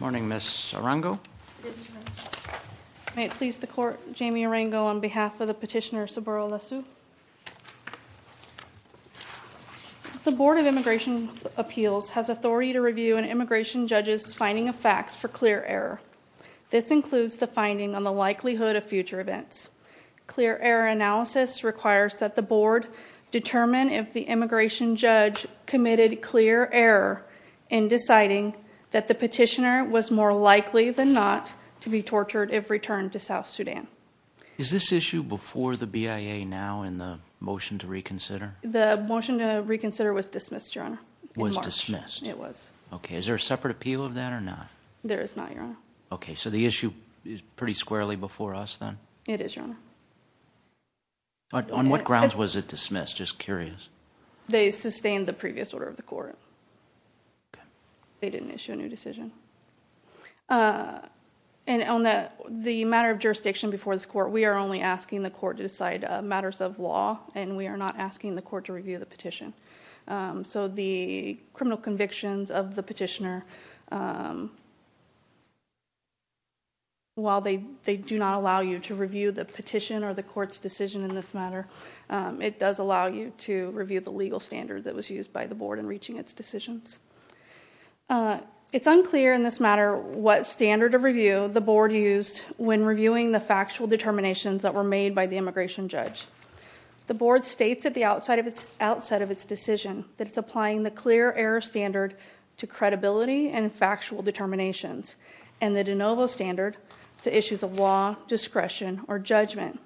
Morning, Ms. Arango. May it please the court, Jamie Arango on behalf of the petitioner Sobura Lasu. The Board of Immigration Appeals has authority to review an immigration judge's finding of facts for clear error. This includes the finding on the likelihood of future events. Clear error analysis requires that the board determine if the immigration judge committed clear error in deciding that the petitioner was more likely than not to be tortured if returned to South Sudan. Is this issue before the BIA now in the motion to reconsider? The motion to reconsider was dismissed, Your Honor. Was dismissed? It was. Okay, is there a separate appeal of that or not? There is not, Your Honor. Okay, so the issue is pretty squarely before us then? It is, Your Honor. On what grounds was it dismissed? That's just curious. They sustained the previous order of the court. They didn't issue a new decision. And on the matter of jurisdiction before this court, we are only asking the court to decide matters of law and we are not asking the court to review the petition. So the criminal convictions of the petitioner, while they they do not allow you to review the petition or the court's decision in this matter, it does allow you to review the legal standard that was used by the board in reaching its decisions. It's unclear in this matter what standard of review the board used when reviewing the factual determinations that were made by the immigration judge. The board states at the outset of its decision that it's applying the clear error standard to credibility and factual determinations and the de novo standard to issues of law, discretion, or judgment.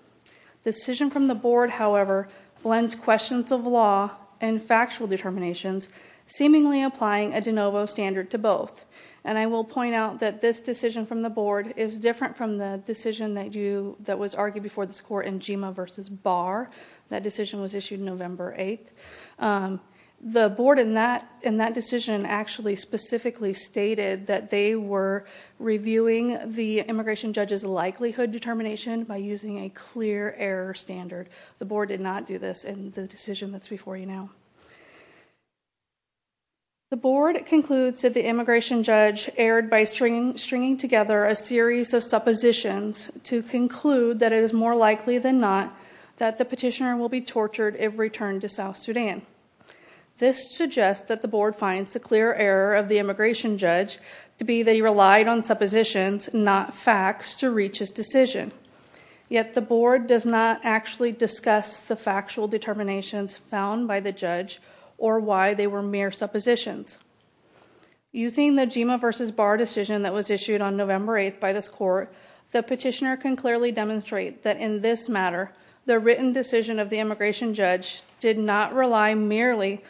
The decision from the board, however, blends questions of law and factual determinations, seemingly applying a de novo standard to both. And I will point out that this decision from the board is different from the decision that you that was argued before this court in Gema versus Barr. That decision was issued November 8th. The board in that in that decision actually specifically stated that they were reviewing the immigration judge's likelihood determination by using a clear error standard. The board did not do this in the decision that's before you now. The board concludes that the immigration judge erred by stringing together a series of suppositions to conclude that it is more likely than not that the petitioner will be tortured if returned to South Sudan. This suggests that the board finds the clear error of the immigration judge to be they relied on suppositions, not facts, to reach his decision. Yet the board does not actually discuss the factual determinations found by the judge or why they were mere suppositions. Using the Gema versus Barr decision that was issued on November 8th by this court, the petitioner can clearly demonstrate that in this matter, the written decision of the immigration judge did not rely merely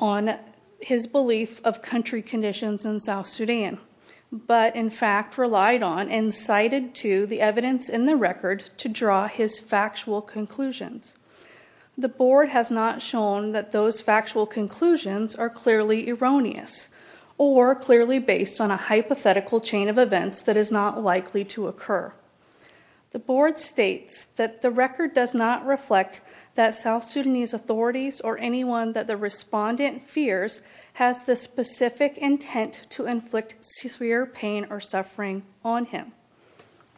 on his belief of country conditions in the record to draw his factual conclusions. The board has not shown that those factual conclusions are clearly erroneous or clearly based on a hypothetical chain of events that is not likely to occur. The board states that the record does not reflect that South Sudanese authorities or anyone that the respondent fears has the specific intent to inflict severe pain or suffering on him.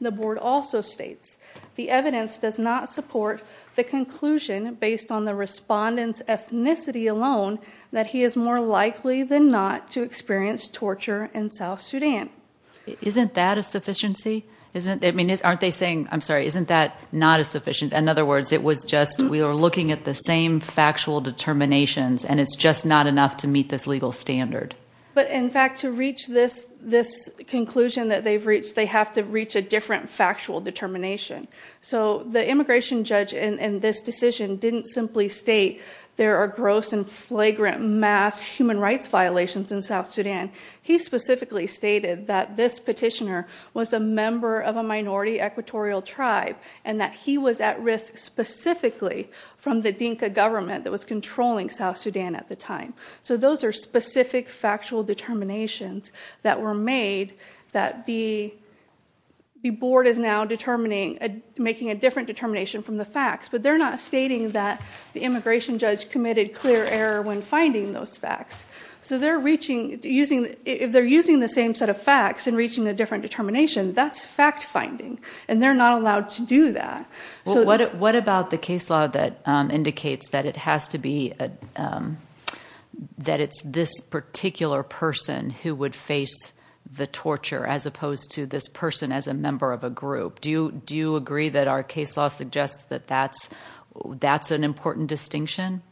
The board also states the evidence does not support the conclusion based on the respondent's ethnicity alone that he is more likely than not to experience torture in South Sudan. Isn't that a sufficiency? Isn't it? I mean, aren't they saying, I'm sorry, isn't that not a sufficient? In other words, it was just we were looking at the same factual determinations and it's just not enough to meet this legal standard. But in fact, to reach this conclusion that they've reached, they have to reach a different factual determination. So the immigration judge in this decision didn't simply state there are gross and flagrant mass human rights violations in South Sudan. He specifically stated that this petitioner was a member of a minority equatorial tribe and that he was at risk specifically from the Dinka government that was controlling South Sudan at the time. So those are specific factual determinations that were made that the board is now determining, making a different determination from the facts. But they're not stating that the immigration judge committed clear error when finding those facts. So they're reaching, using, if they're using the same set of facts and reaching a different determination, that's fact finding. And they're not allowed to do that. What about the case law that indicates that it has to be, that it's this particular person who would face the torture as opposed to this person as a member of a group? Do you agree that our case law suggests that that's an important distinction?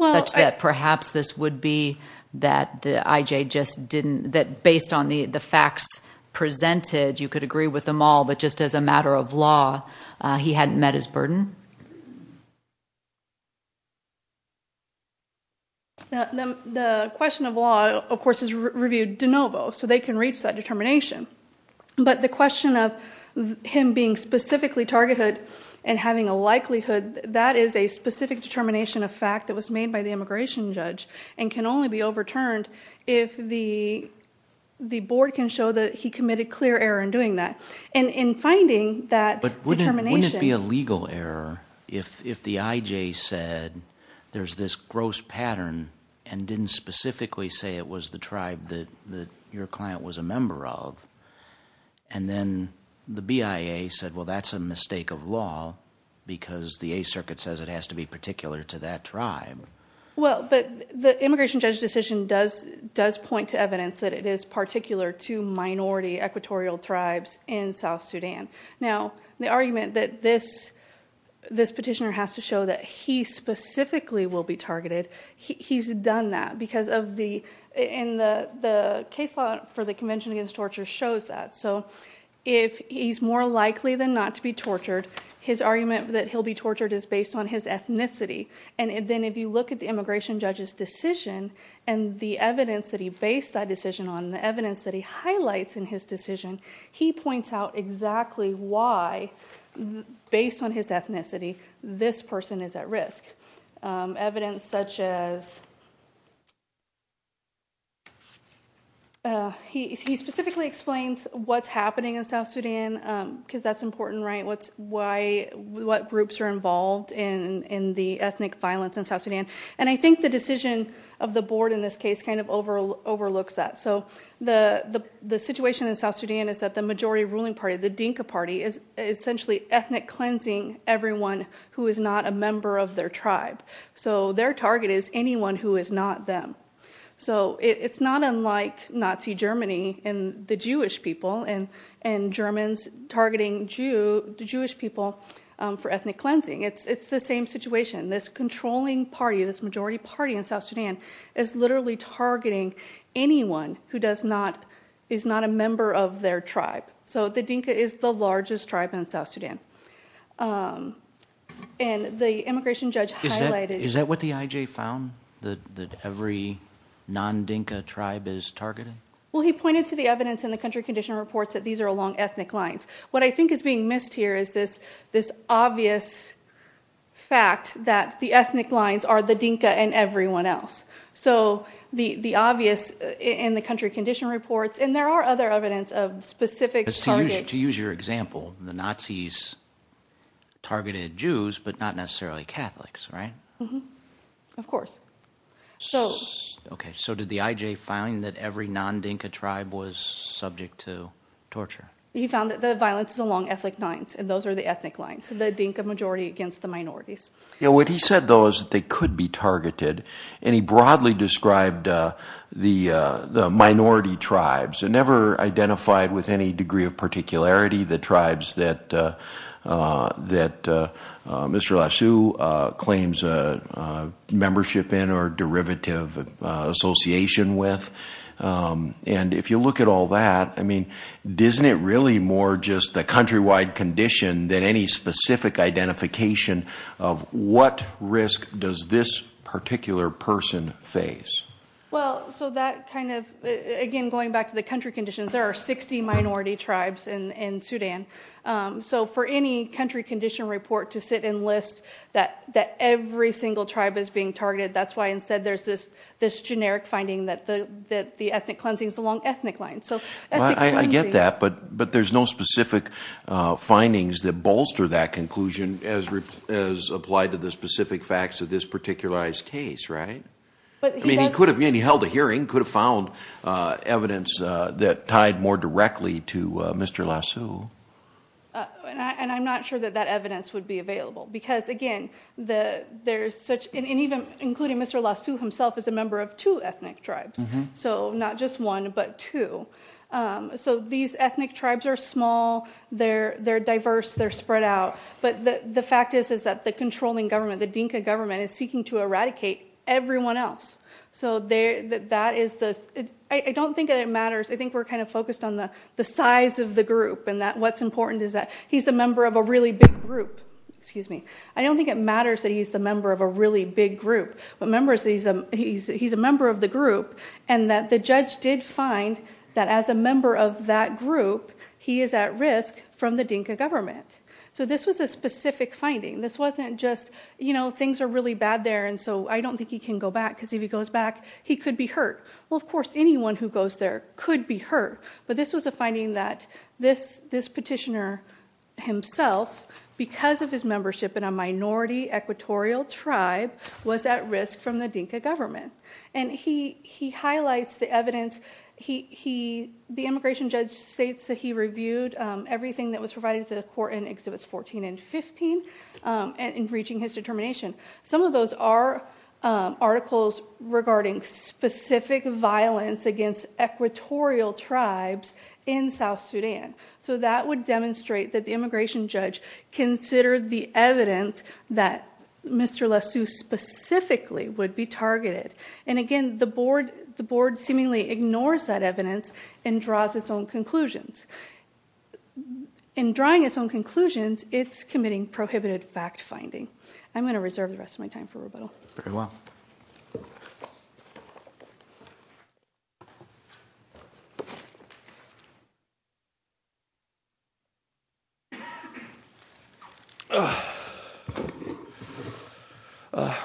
Such that perhaps this would be that the IJ just didn't, that based on the facts presented, you could agree with them all that just as a matter of law, he hadn't met his burden? The question of law, of course, is reviewed de novo so they can reach that determination. But the question of him being specifically targeted and having a likelihood, that is a specific determination of fact that was made by the immigration judge and can only be overturned if the the board can show that he committed clear error in doing that. And in finding that determination. Wouldn't it be a legal error if the IJ said there's this gross pattern and didn't specifically say it was the tribe that your client was a member of? And then the BIA said, well, that's a mistake of law because the A circuit says it has to be particular to that tribe. Well, but the immigration judge decision does point to evidence that it is minority Equatorial tribes in South Sudan. Now, the argument that this petitioner has to show that he specifically will be targeted, he's done that because of the case law for the Convention Against Torture shows that. So if he's more likely than not to be tortured, his argument that he'll be tortured is based on his ethnicity. And then if you look at the immigration judge's decision and the evidence that he based that decision on, the evidence that he highlights in his decision, he points out exactly why, based on his ethnicity, this person is at risk. Evidence such as. He specifically explains what's happening in South Sudan because that's important, right, what's why, what groups are involved in in the ethnic violence in South Sudan. And I think the decision of the board in this case kind of overlooks that. So the situation in South Sudan is that the majority ruling party, the Dinka party, is essentially ethnic cleansing everyone who is not a member of their tribe. So their target is anyone who is not them. So it's not unlike Nazi Germany and the Jewish people and Germans targeting the Jewish people for ethnic cleansing. It's the same situation. This controlling party, this majority party in South Sudan, is literally targeting anyone who does not, is not a member of their tribe. So the Dinka is the largest tribe in South Sudan. And the immigration judge highlighted. Is that what the IJ found? That every non-Dinka tribe is targeted? Well, he pointed to the evidence in the country condition reports that these are along ethnic lines. What I think is being else. So the obvious in the country condition reports, and there are other evidence of specific targets. To use your example, the Nazis targeted Jews, but not necessarily Catholics, right? Of course. So did the IJ find that every non-Dinka tribe was subject to torture? He found that the violence is along ethnic lines, and those are the ethnic lines, the Dinka majority against the targeted. And he broadly described the minority tribes and never identified with any degree of particularity the tribes that Mr. Lashu claims membership in or derivative association with. And if you look at all that, I mean, isn't it really more just the countrywide condition than any specific identification of what risk does this particular person face? Well, so that kind of, again, going back to the country conditions, there are 60 minority tribes in Sudan. So for any country condition report to sit and list that every single tribe is being targeted, that's why instead there's this generic finding that the ethnic cleansing is along ethnic lines. I get that, but there's no specific findings that bolster that conclusion as applied to the specific facts of this particularized case, right? I mean, he held a hearing, could have found evidence that tied more directly to Mr. Lashu. And I'm not sure that that evidence would be available, because again, there's such, and even including Mr. Lashu himself is a member of two ethnic tribes. So not just one, but two. So these ethnic tribes are small, they're diverse, they're spread out. But the fact is, is that the controlling government, the Dinka government is seeking to eradicate everyone else. So that is the... I don't think that it matters. I think we're kind of focused on the size of the group and that what's important is that he's a member of a really big group. Excuse me. I don't think it matters that he's the member of a really big group, but members, he's a member of the group. And that the judge did find that as a member of that group, he is at risk from the Dinka government. So this was a specific finding. This wasn't just, you know, things are really bad there, and so I don't think he can go back, because if he goes back, he could be hurt. Well, of course, anyone who goes there could be hurt. But this was a finding that this petitioner himself, because of his membership in a minority Equatorial tribe, was at risk from the Dinka government. And he highlights the evidence. The immigration judge states that he reviewed everything that was provided to the court in Exhibits 14 and 15 in reaching his determination. Some of those are articles regarding specific violence against Equatorial tribes in South Sudan. So that would demonstrate that the immigration judge considered the evidence that Mr. Lesue specifically would be targeted. And again, the board seemingly ignores that evidence and draws its own conclusions. In drawing its own conclusions, it's committing prohibited fact-finding. I'm going to reserve the rest of my time for rebuttal. Very well.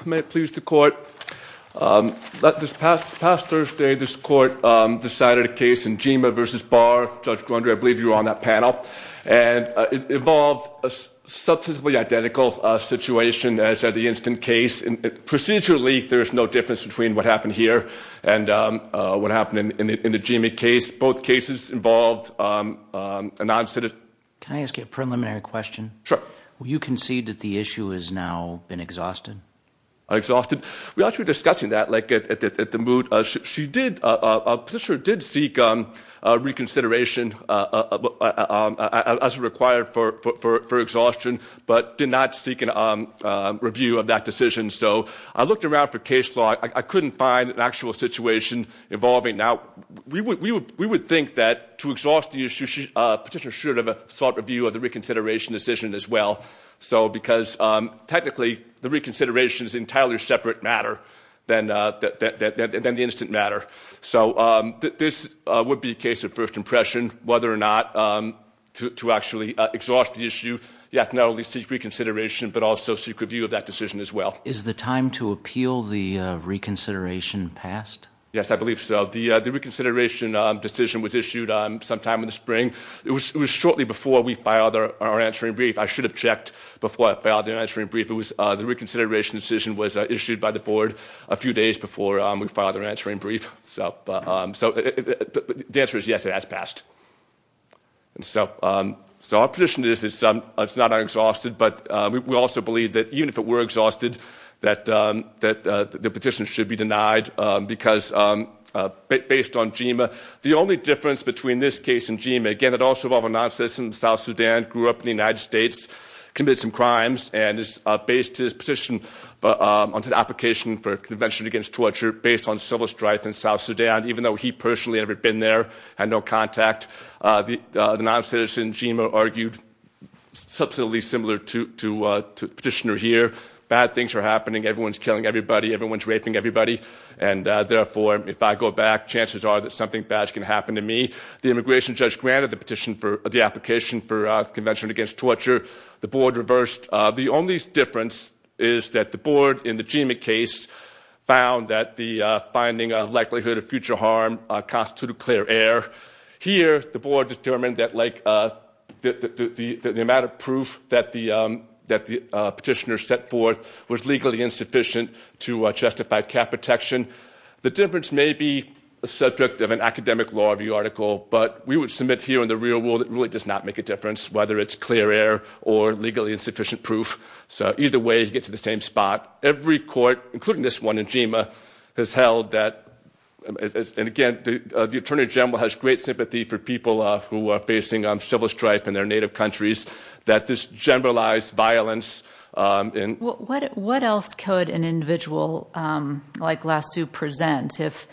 May it please the Court. This past Thursday, this Court decided a case in Gema v. Barr. Judge Grundy, I believe you were on that panel. And it involved a identical situation as the Instant case. Procedurally, there's no difference between what happened here and what happened in the Gema case. Both cases involved a non-citizen. Can I ask you a preliminary question? Sure. Will you concede that the issue has now been exhausted? Exhausted. We were actually discussing that at the moot. A petitioner did seek reconsideration as required for exhaustion but did not seek a review of that decision. So I looked around for case law. I couldn't find an actual situation involving. Now, we would think that to exhaust the issue, a petitioner should have sought review of the reconsideration decision as well. Because technically, the reconsideration is an entirely separate matter than the instant matter. So this would be a case of first impression. Whether or not to actually exhaust the issue, you have to not only seek reconsideration but also seek review of that decision as well. Is the time to appeal the reconsideration passed? Yes, I believe so. The reconsideration decision was issued sometime in the spring. It was shortly before we filed our answering brief. I should have checked before I filed the answering brief. The reconsideration decision was issued by the Board a few days before we filed it. So the answer is yes, it has passed. So our position is it's not unexhausted. But we also believe that even if it were exhausted, that the petition should be denied. Because based on GEMA, the only difference between this case and GEMA, again, it also involved a non-citizen in South Sudan, grew up in the United States, committed some crimes, and is based his petition onto the application for a convention against torture based on civil strife in South Sudan, even though he personally had never been there, had no contact. The non-citizen in GEMA argued substantially similar to the petitioner here. Bad things are happening. Everyone's killing everybody. Everyone's raping everybody. And therefore, if I go back, chances are that something bad is going to happen to me. The immigration judge granted the application for a convention against torture. The Board is that the Board in the GEMA case found that the finding of likelihood of future harm constituted clear error. Here, the Board determined that the amount of proof that the petitioner set forth was legally insufficient to justify cap protection. The difference may be a subject of an academic law review article. But we would submit here in the real world, it really does not make a difference whether it's clear error or legally insufficient proof. Either way, you get to the same spot. Every court, including this one in GEMA, has held that, and again, the Attorney General has great sympathy for people who are facing civil strife in their native countries, that this generalized violence. What else could an individual like Lassu present if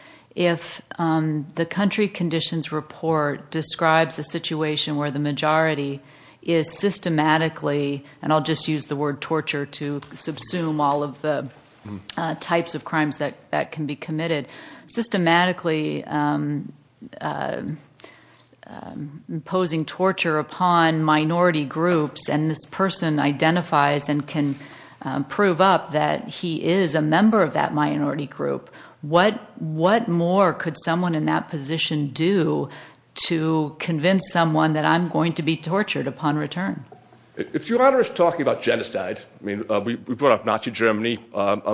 the country conditions report describes a situation where the majority is systematically, and I'll just use the word torture to subsume all of the types of crimes that can be committed, systematically imposing torture upon minority groups, and this person identifies and can prove up that he is a convict. If you're talking about genocide, we brought up Nazi Germany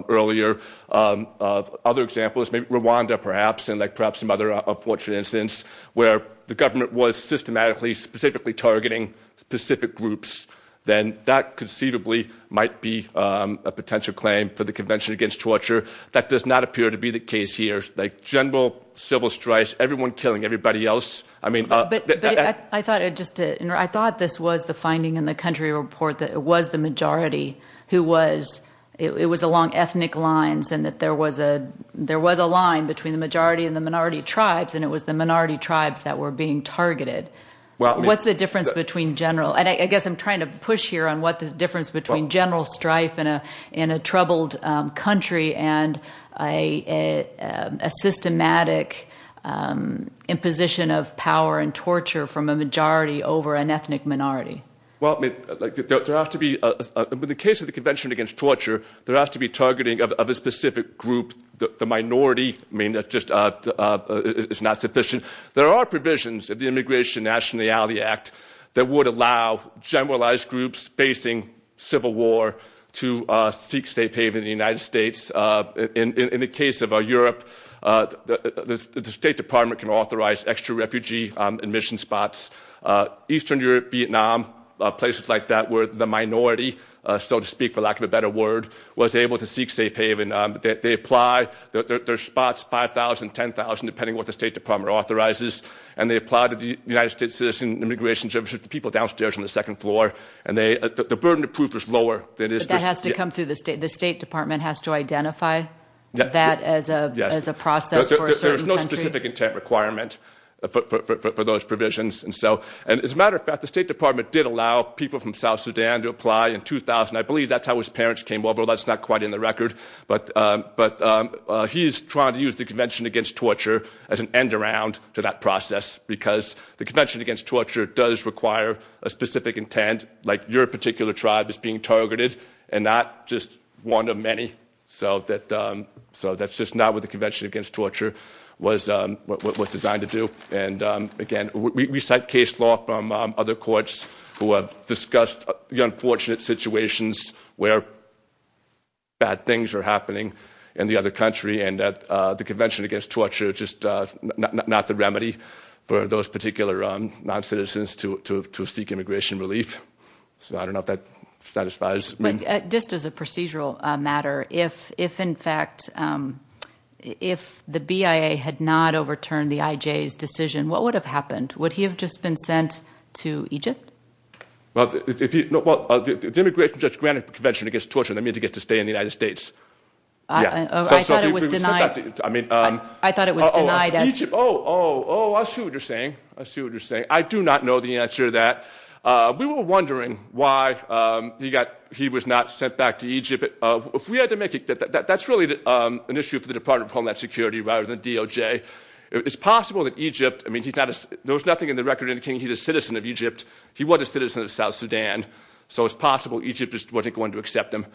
earlier, other examples, maybe Rwanda perhaps, and perhaps some other unfortunate incidents where the government was systematically, specifically targeting specific groups, then that conceivably might be a potential claim for the Convention Against Torture. That does not appear to be the case here. General civil strife, everyone killing everybody else, I mean- I thought this was the finding in the country report that it was the majority who was, it was along ethnic lines, and that there was a line between the majority and the minority tribes, and it was the minority tribes that were being targeted. What's the difference between general, and I guess I'm trying to push here on what the difference between general strife in a troubled country, and a systematic imposition of power and torture from a majority over an ethnic minority? Well, there has to be, in the case of the Convention Against Torture, there has to be targeting of a specific group, the minority, I mean, that just is not sufficient. There are provisions of the Immigration and Nationality Act that would allow generalized groups facing civil war to seek safe haven in the United States. In the case of Europe, the State Department can authorize extra refugee admission spots. Eastern Europe, Vietnam, places like that where the minority, so to speak, for lack of a better word, was able to seek safe haven. They apply, there's spots, 5,000, 10,000, depending on what the State Department authorizes, and they apply to the United States Citizens Immigration Service, people downstairs on the floor, and the burden of proof is lower. But that has to come through the State, the State Department has to identify that as a process for a certain country? There's no specific intent requirement for those provisions, and so, and as a matter of fact, the State Department did allow people from South Sudan to apply in 2000, I believe that's how his parents came over, that's not quite in the record, but he's trying to use the Convention Against Torture as an end around to that process, because the Convention Against Torture does require a specific intent, your particular tribe is being targeted, and not just one of many, so that's just not what the Convention Against Torture was designed to do. And again, we cite case law from other courts who have discussed the unfortunate situations where bad things are happening in the other country, and the Convention Against Torture is just not the remedy for those particular non-citizens to seek immigration relief, so I don't know if that satisfies me. Just as a procedural matter, if in fact, if the BIA had not overturned the IJ's decision, what would have happened? Would he have just been sent to Egypt? Well, the Immigration Judge granted the Convention Against Torture, that means he gets to stay in the United States. I thought it was denied, I mean... I thought it was denied as... Oh, oh, oh, I see what you're saying, I see what you're saying. I do not know the answer to that. We were wondering why he was not sent back to Egypt. That's really an issue for the Department of Homeland Security rather than DOJ. It's possible that Egypt, I mean, there was nothing in the record indicating he was a citizen of Egypt, he wasn't a citizen of South Sudan, so it's possible Egypt just wasn't going to accept him.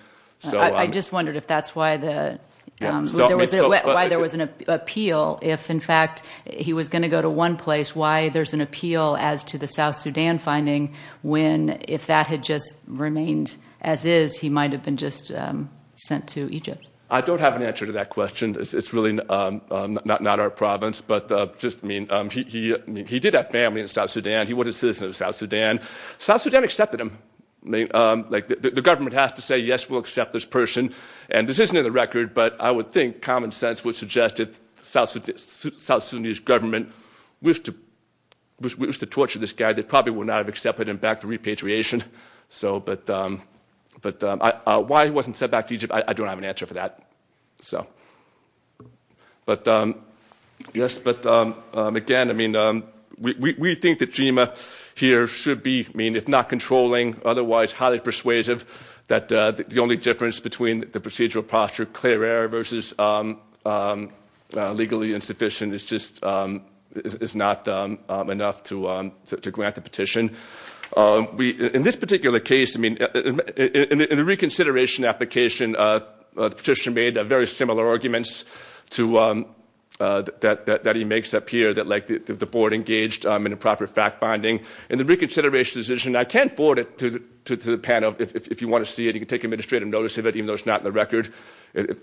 I just wondered if that's why there was an appeal, if in fact he was going to go to one place, why there's an appeal as to the South Sudan finding when if that had just remained as is, he might have been just sent to Egypt. I don't have an answer to that question. It's really not our province, but just, I mean, he did have family in South Sudan, he was a citizen of South Sudan. South Sudan accepted him. The government has to say, yes, we'll accept this person, and this isn't in the record, but I would think common sense would suggest if South Sudanese government wished to torture this guy, they probably would not have accepted him back for repatriation. But why he wasn't sent back to Egypt, I don't have an answer for that. So, but yes, but again, I mean, we think that GEMA here should be, I mean, if not controlling, otherwise highly persuasive, that the only difference between the procedural posture, clear air versus legally insufficient, it's just, it's not enough to grant the petition. In this particular case, I mean, in the reconsideration application, the petitioner made very similar arguments that he makes up here, that like the board engaged in improper fact-finding. In the reconsideration decision, I can't forward it to the panel. If you want to see it, you can take administrative notice of it, even though it's not in the record.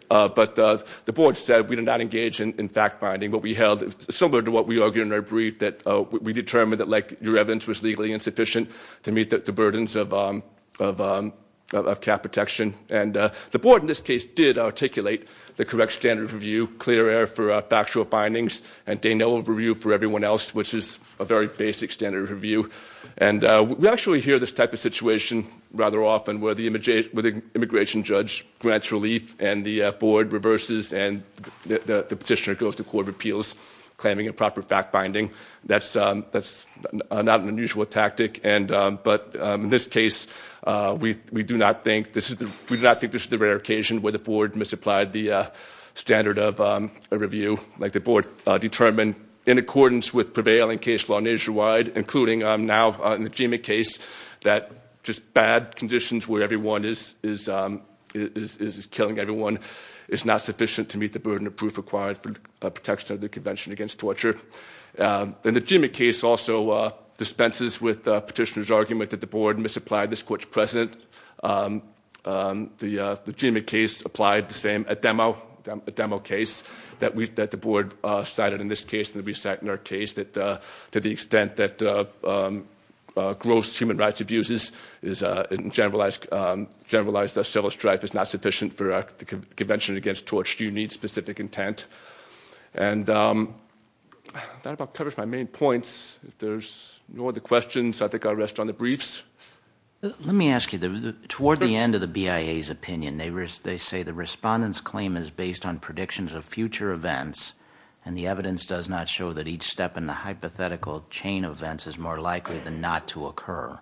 But the board said we did not engage in fact-finding, but we held, similar to what we argued in our brief, that we determined that like your evidence was legally insufficient to meet the burdens of cap protection. And the board, in this case, did articulate the correct standard of review, clear air for factual findings, and de novo review for everyone else, which is a very basic standard of review. And we actually hear this type of situation rather often where the immigration judge grants relief and the board reverses and the petitioner goes to court of appeals claiming improper fact-finding. That's not an unusual tactic. But in this case, we do not think this is the rare occasion where the board misapplied the standard of review, like the board determined in accordance with prevailing case law nationwide, including now in the GMA case, that just bad conditions where everyone is killing everyone is not sufficient to meet the burden of proof required for protection of the Convention against Torture. And the GMA case also dispenses with the petitioner's argument that the board misapplied this court's precedent. The GMA case applied the same, a demo case, that the board cited in this case and that we cite in our case, that to the extent that gross human rights abuses is generalized as civil strife is not sufficient for the Convention against Torture, you need specific intent. And that about covers my main points. If there's no other questions, I think I'll rest on the briefs. Let me ask you, toward the end of the BIA's opinion, they say the respondent's claim is based on predictions of future events and the evidence does not show that each step in the hypothetical chain of events is more likely than not to occur.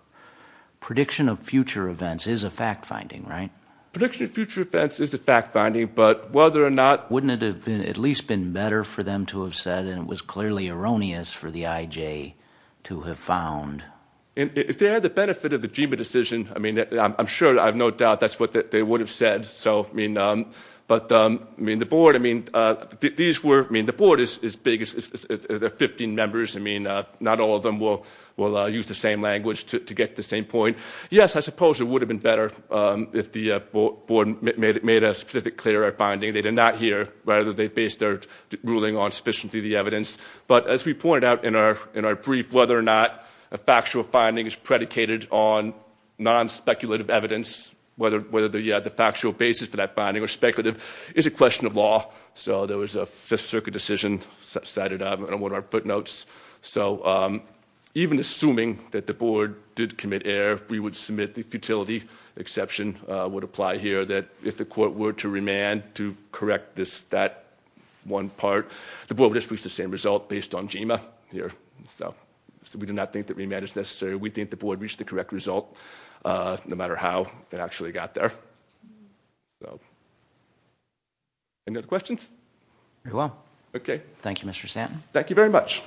Prediction of future events is a fact-finding, right? Prediction of future events is a fact-finding, but whether or not... Wouldn't it have been at least been better for them to have said, and it was clearly erroneous for the IJ to have found... If they had the benefit of the GMA decision, I mean, I'm sure, I have no doubt that's what they would have said. So, I mean, but, I mean, the board, I mean, these were, I mean, the board is as big as 15 members. I mean, not all of them will use the language to get to the same point. Yes, I suppose it would have been better if the board made a specific clear finding. They did not hear whether they based their ruling on sufficiently the evidence. But as we pointed out in our brief, whether or not a factual finding is predicated on non-speculative evidence, whether the factual basis for that finding or speculative is a question of law. So there was a Fifth Circuit decision cited on one of our footnotes. So even assuming that the board did commit error, we would submit the futility exception would apply here that if the court were to remand to correct this, that one part, the board would just reach the same result based on GMA here. So we do not think that remand is necessary. We think the board reached the correct result no matter how it actually got there. So any other questions? Very well. Okay. Thank you, Mr. Santon. Thank you very much.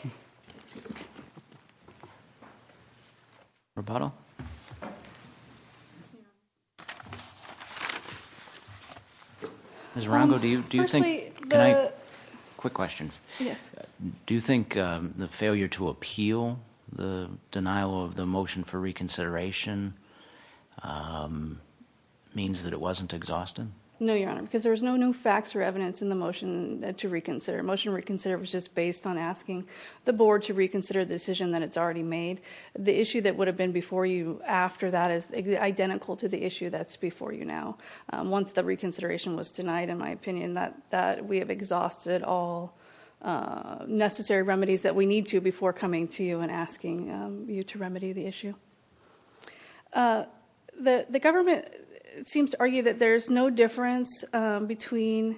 Ms. Rongo, do you think the failure to appeal the denial of the motion for reconsideration means that it was not exhausted? No, Your Honor, because there was no new facts or evidence in the motion to reconsider. Motion reconsider was just based on asking the board to reconsider the decision that it's already made. The issue that would have been before you after that is identical to the issue that's before you now. Once the reconsideration was denied, in my opinion, that we have exhausted all necessary remedies that we need to before coming to you and asking you to remedy the issue. The government seems to argue that there's no difference between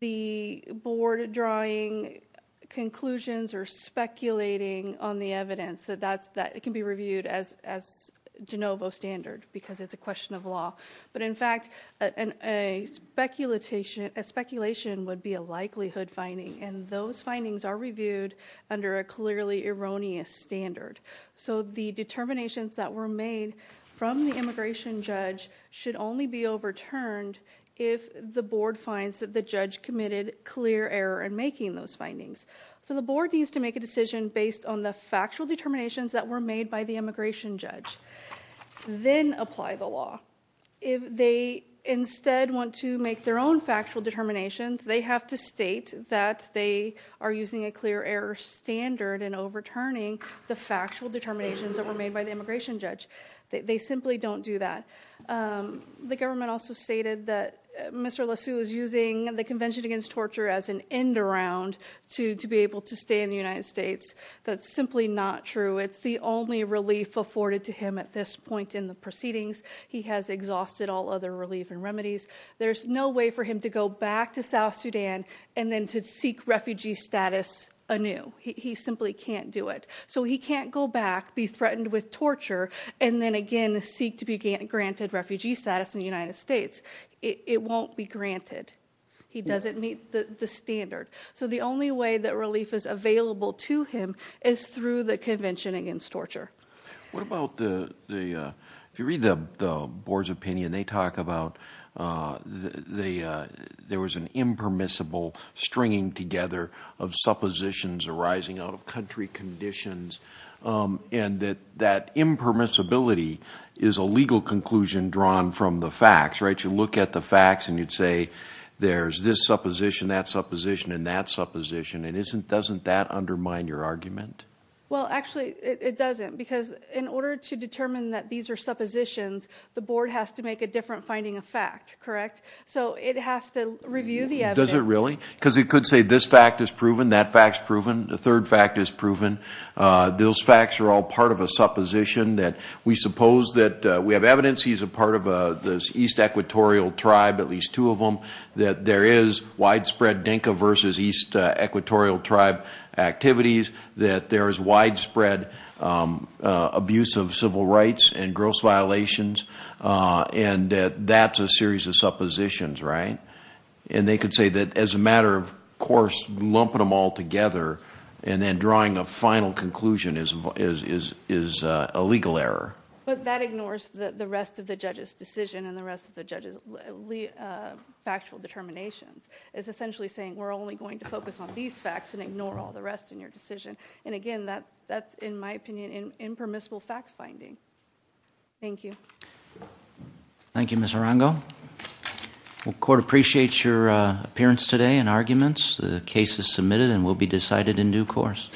the board drawing conclusions or speculating on the evidence, that it can be reviewed as de novo standard because it's a question of law. But in fact, a speculation would be a likelihood finding, and those findings are reviewed under a clearly erroneous standard. So the determinations that were made from the immigration judge should only be overturned if the board finds that the judge committed clear error in making those findings. So the board needs to make a decision based on the factual determinations that were made by the immigration judge, then apply the law. If they instead want to make their own factual determinations, they have to state that they are using a clear error standard and overturning the factual determinations that were made by the immigration judge. They simply don't do that. The government also stated that Mr. LeSue is using the Convention Against Torture as an end-around to be able to stay in the United States. That's simply not true. It's the only relief afforded to him at this point in the proceedings. He has exhausted all other relief and remedies. There's no way for him to go back to South Sudan and then to seek refugee status anew. He simply can't do it. So he can't go back, be threatened with torture, and then again seek to be granted refugee status in the United States. It won't be granted. He doesn't meet the standard. So the only way that relief is available to him is through the board's opinion. They talk about there was an impermissible stringing together of suppositions arising out of country conditions. That impermissibility is a legal conclusion drawn from the facts. You look at the facts and you'd say there's this supposition, that supposition, and that supposition. Doesn't that undermine your argument? Actually, it doesn't. In order to determine that these are suppositions, the board has to make a different finding of fact, correct? So it has to review the evidence. Does it really? Because it could say this fact is proven, that fact's proven, the third fact is proven. Those facts are all part of a supposition that we suppose that we have evidence he's a part of this East Equatorial tribe, at least two of them, that there is widespread Dinka versus East Equatorial tribe activities, that there is civil rights and gross violations, and that that's a series of suppositions, right? And they could say that as a matter of course, lumping them all together and then drawing a final conclusion is a legal error. But that ignores the rest of the judge's decision and the rest of the judge's factual determinations. It's essentially saying we're only going to focus on these facts and in my opinion, that's impermissible fact finding. Thank you. Thank you, Ms. Arango. Well, the court appreciates your appearance today and arguments. The case is submitted and will be decided in due course.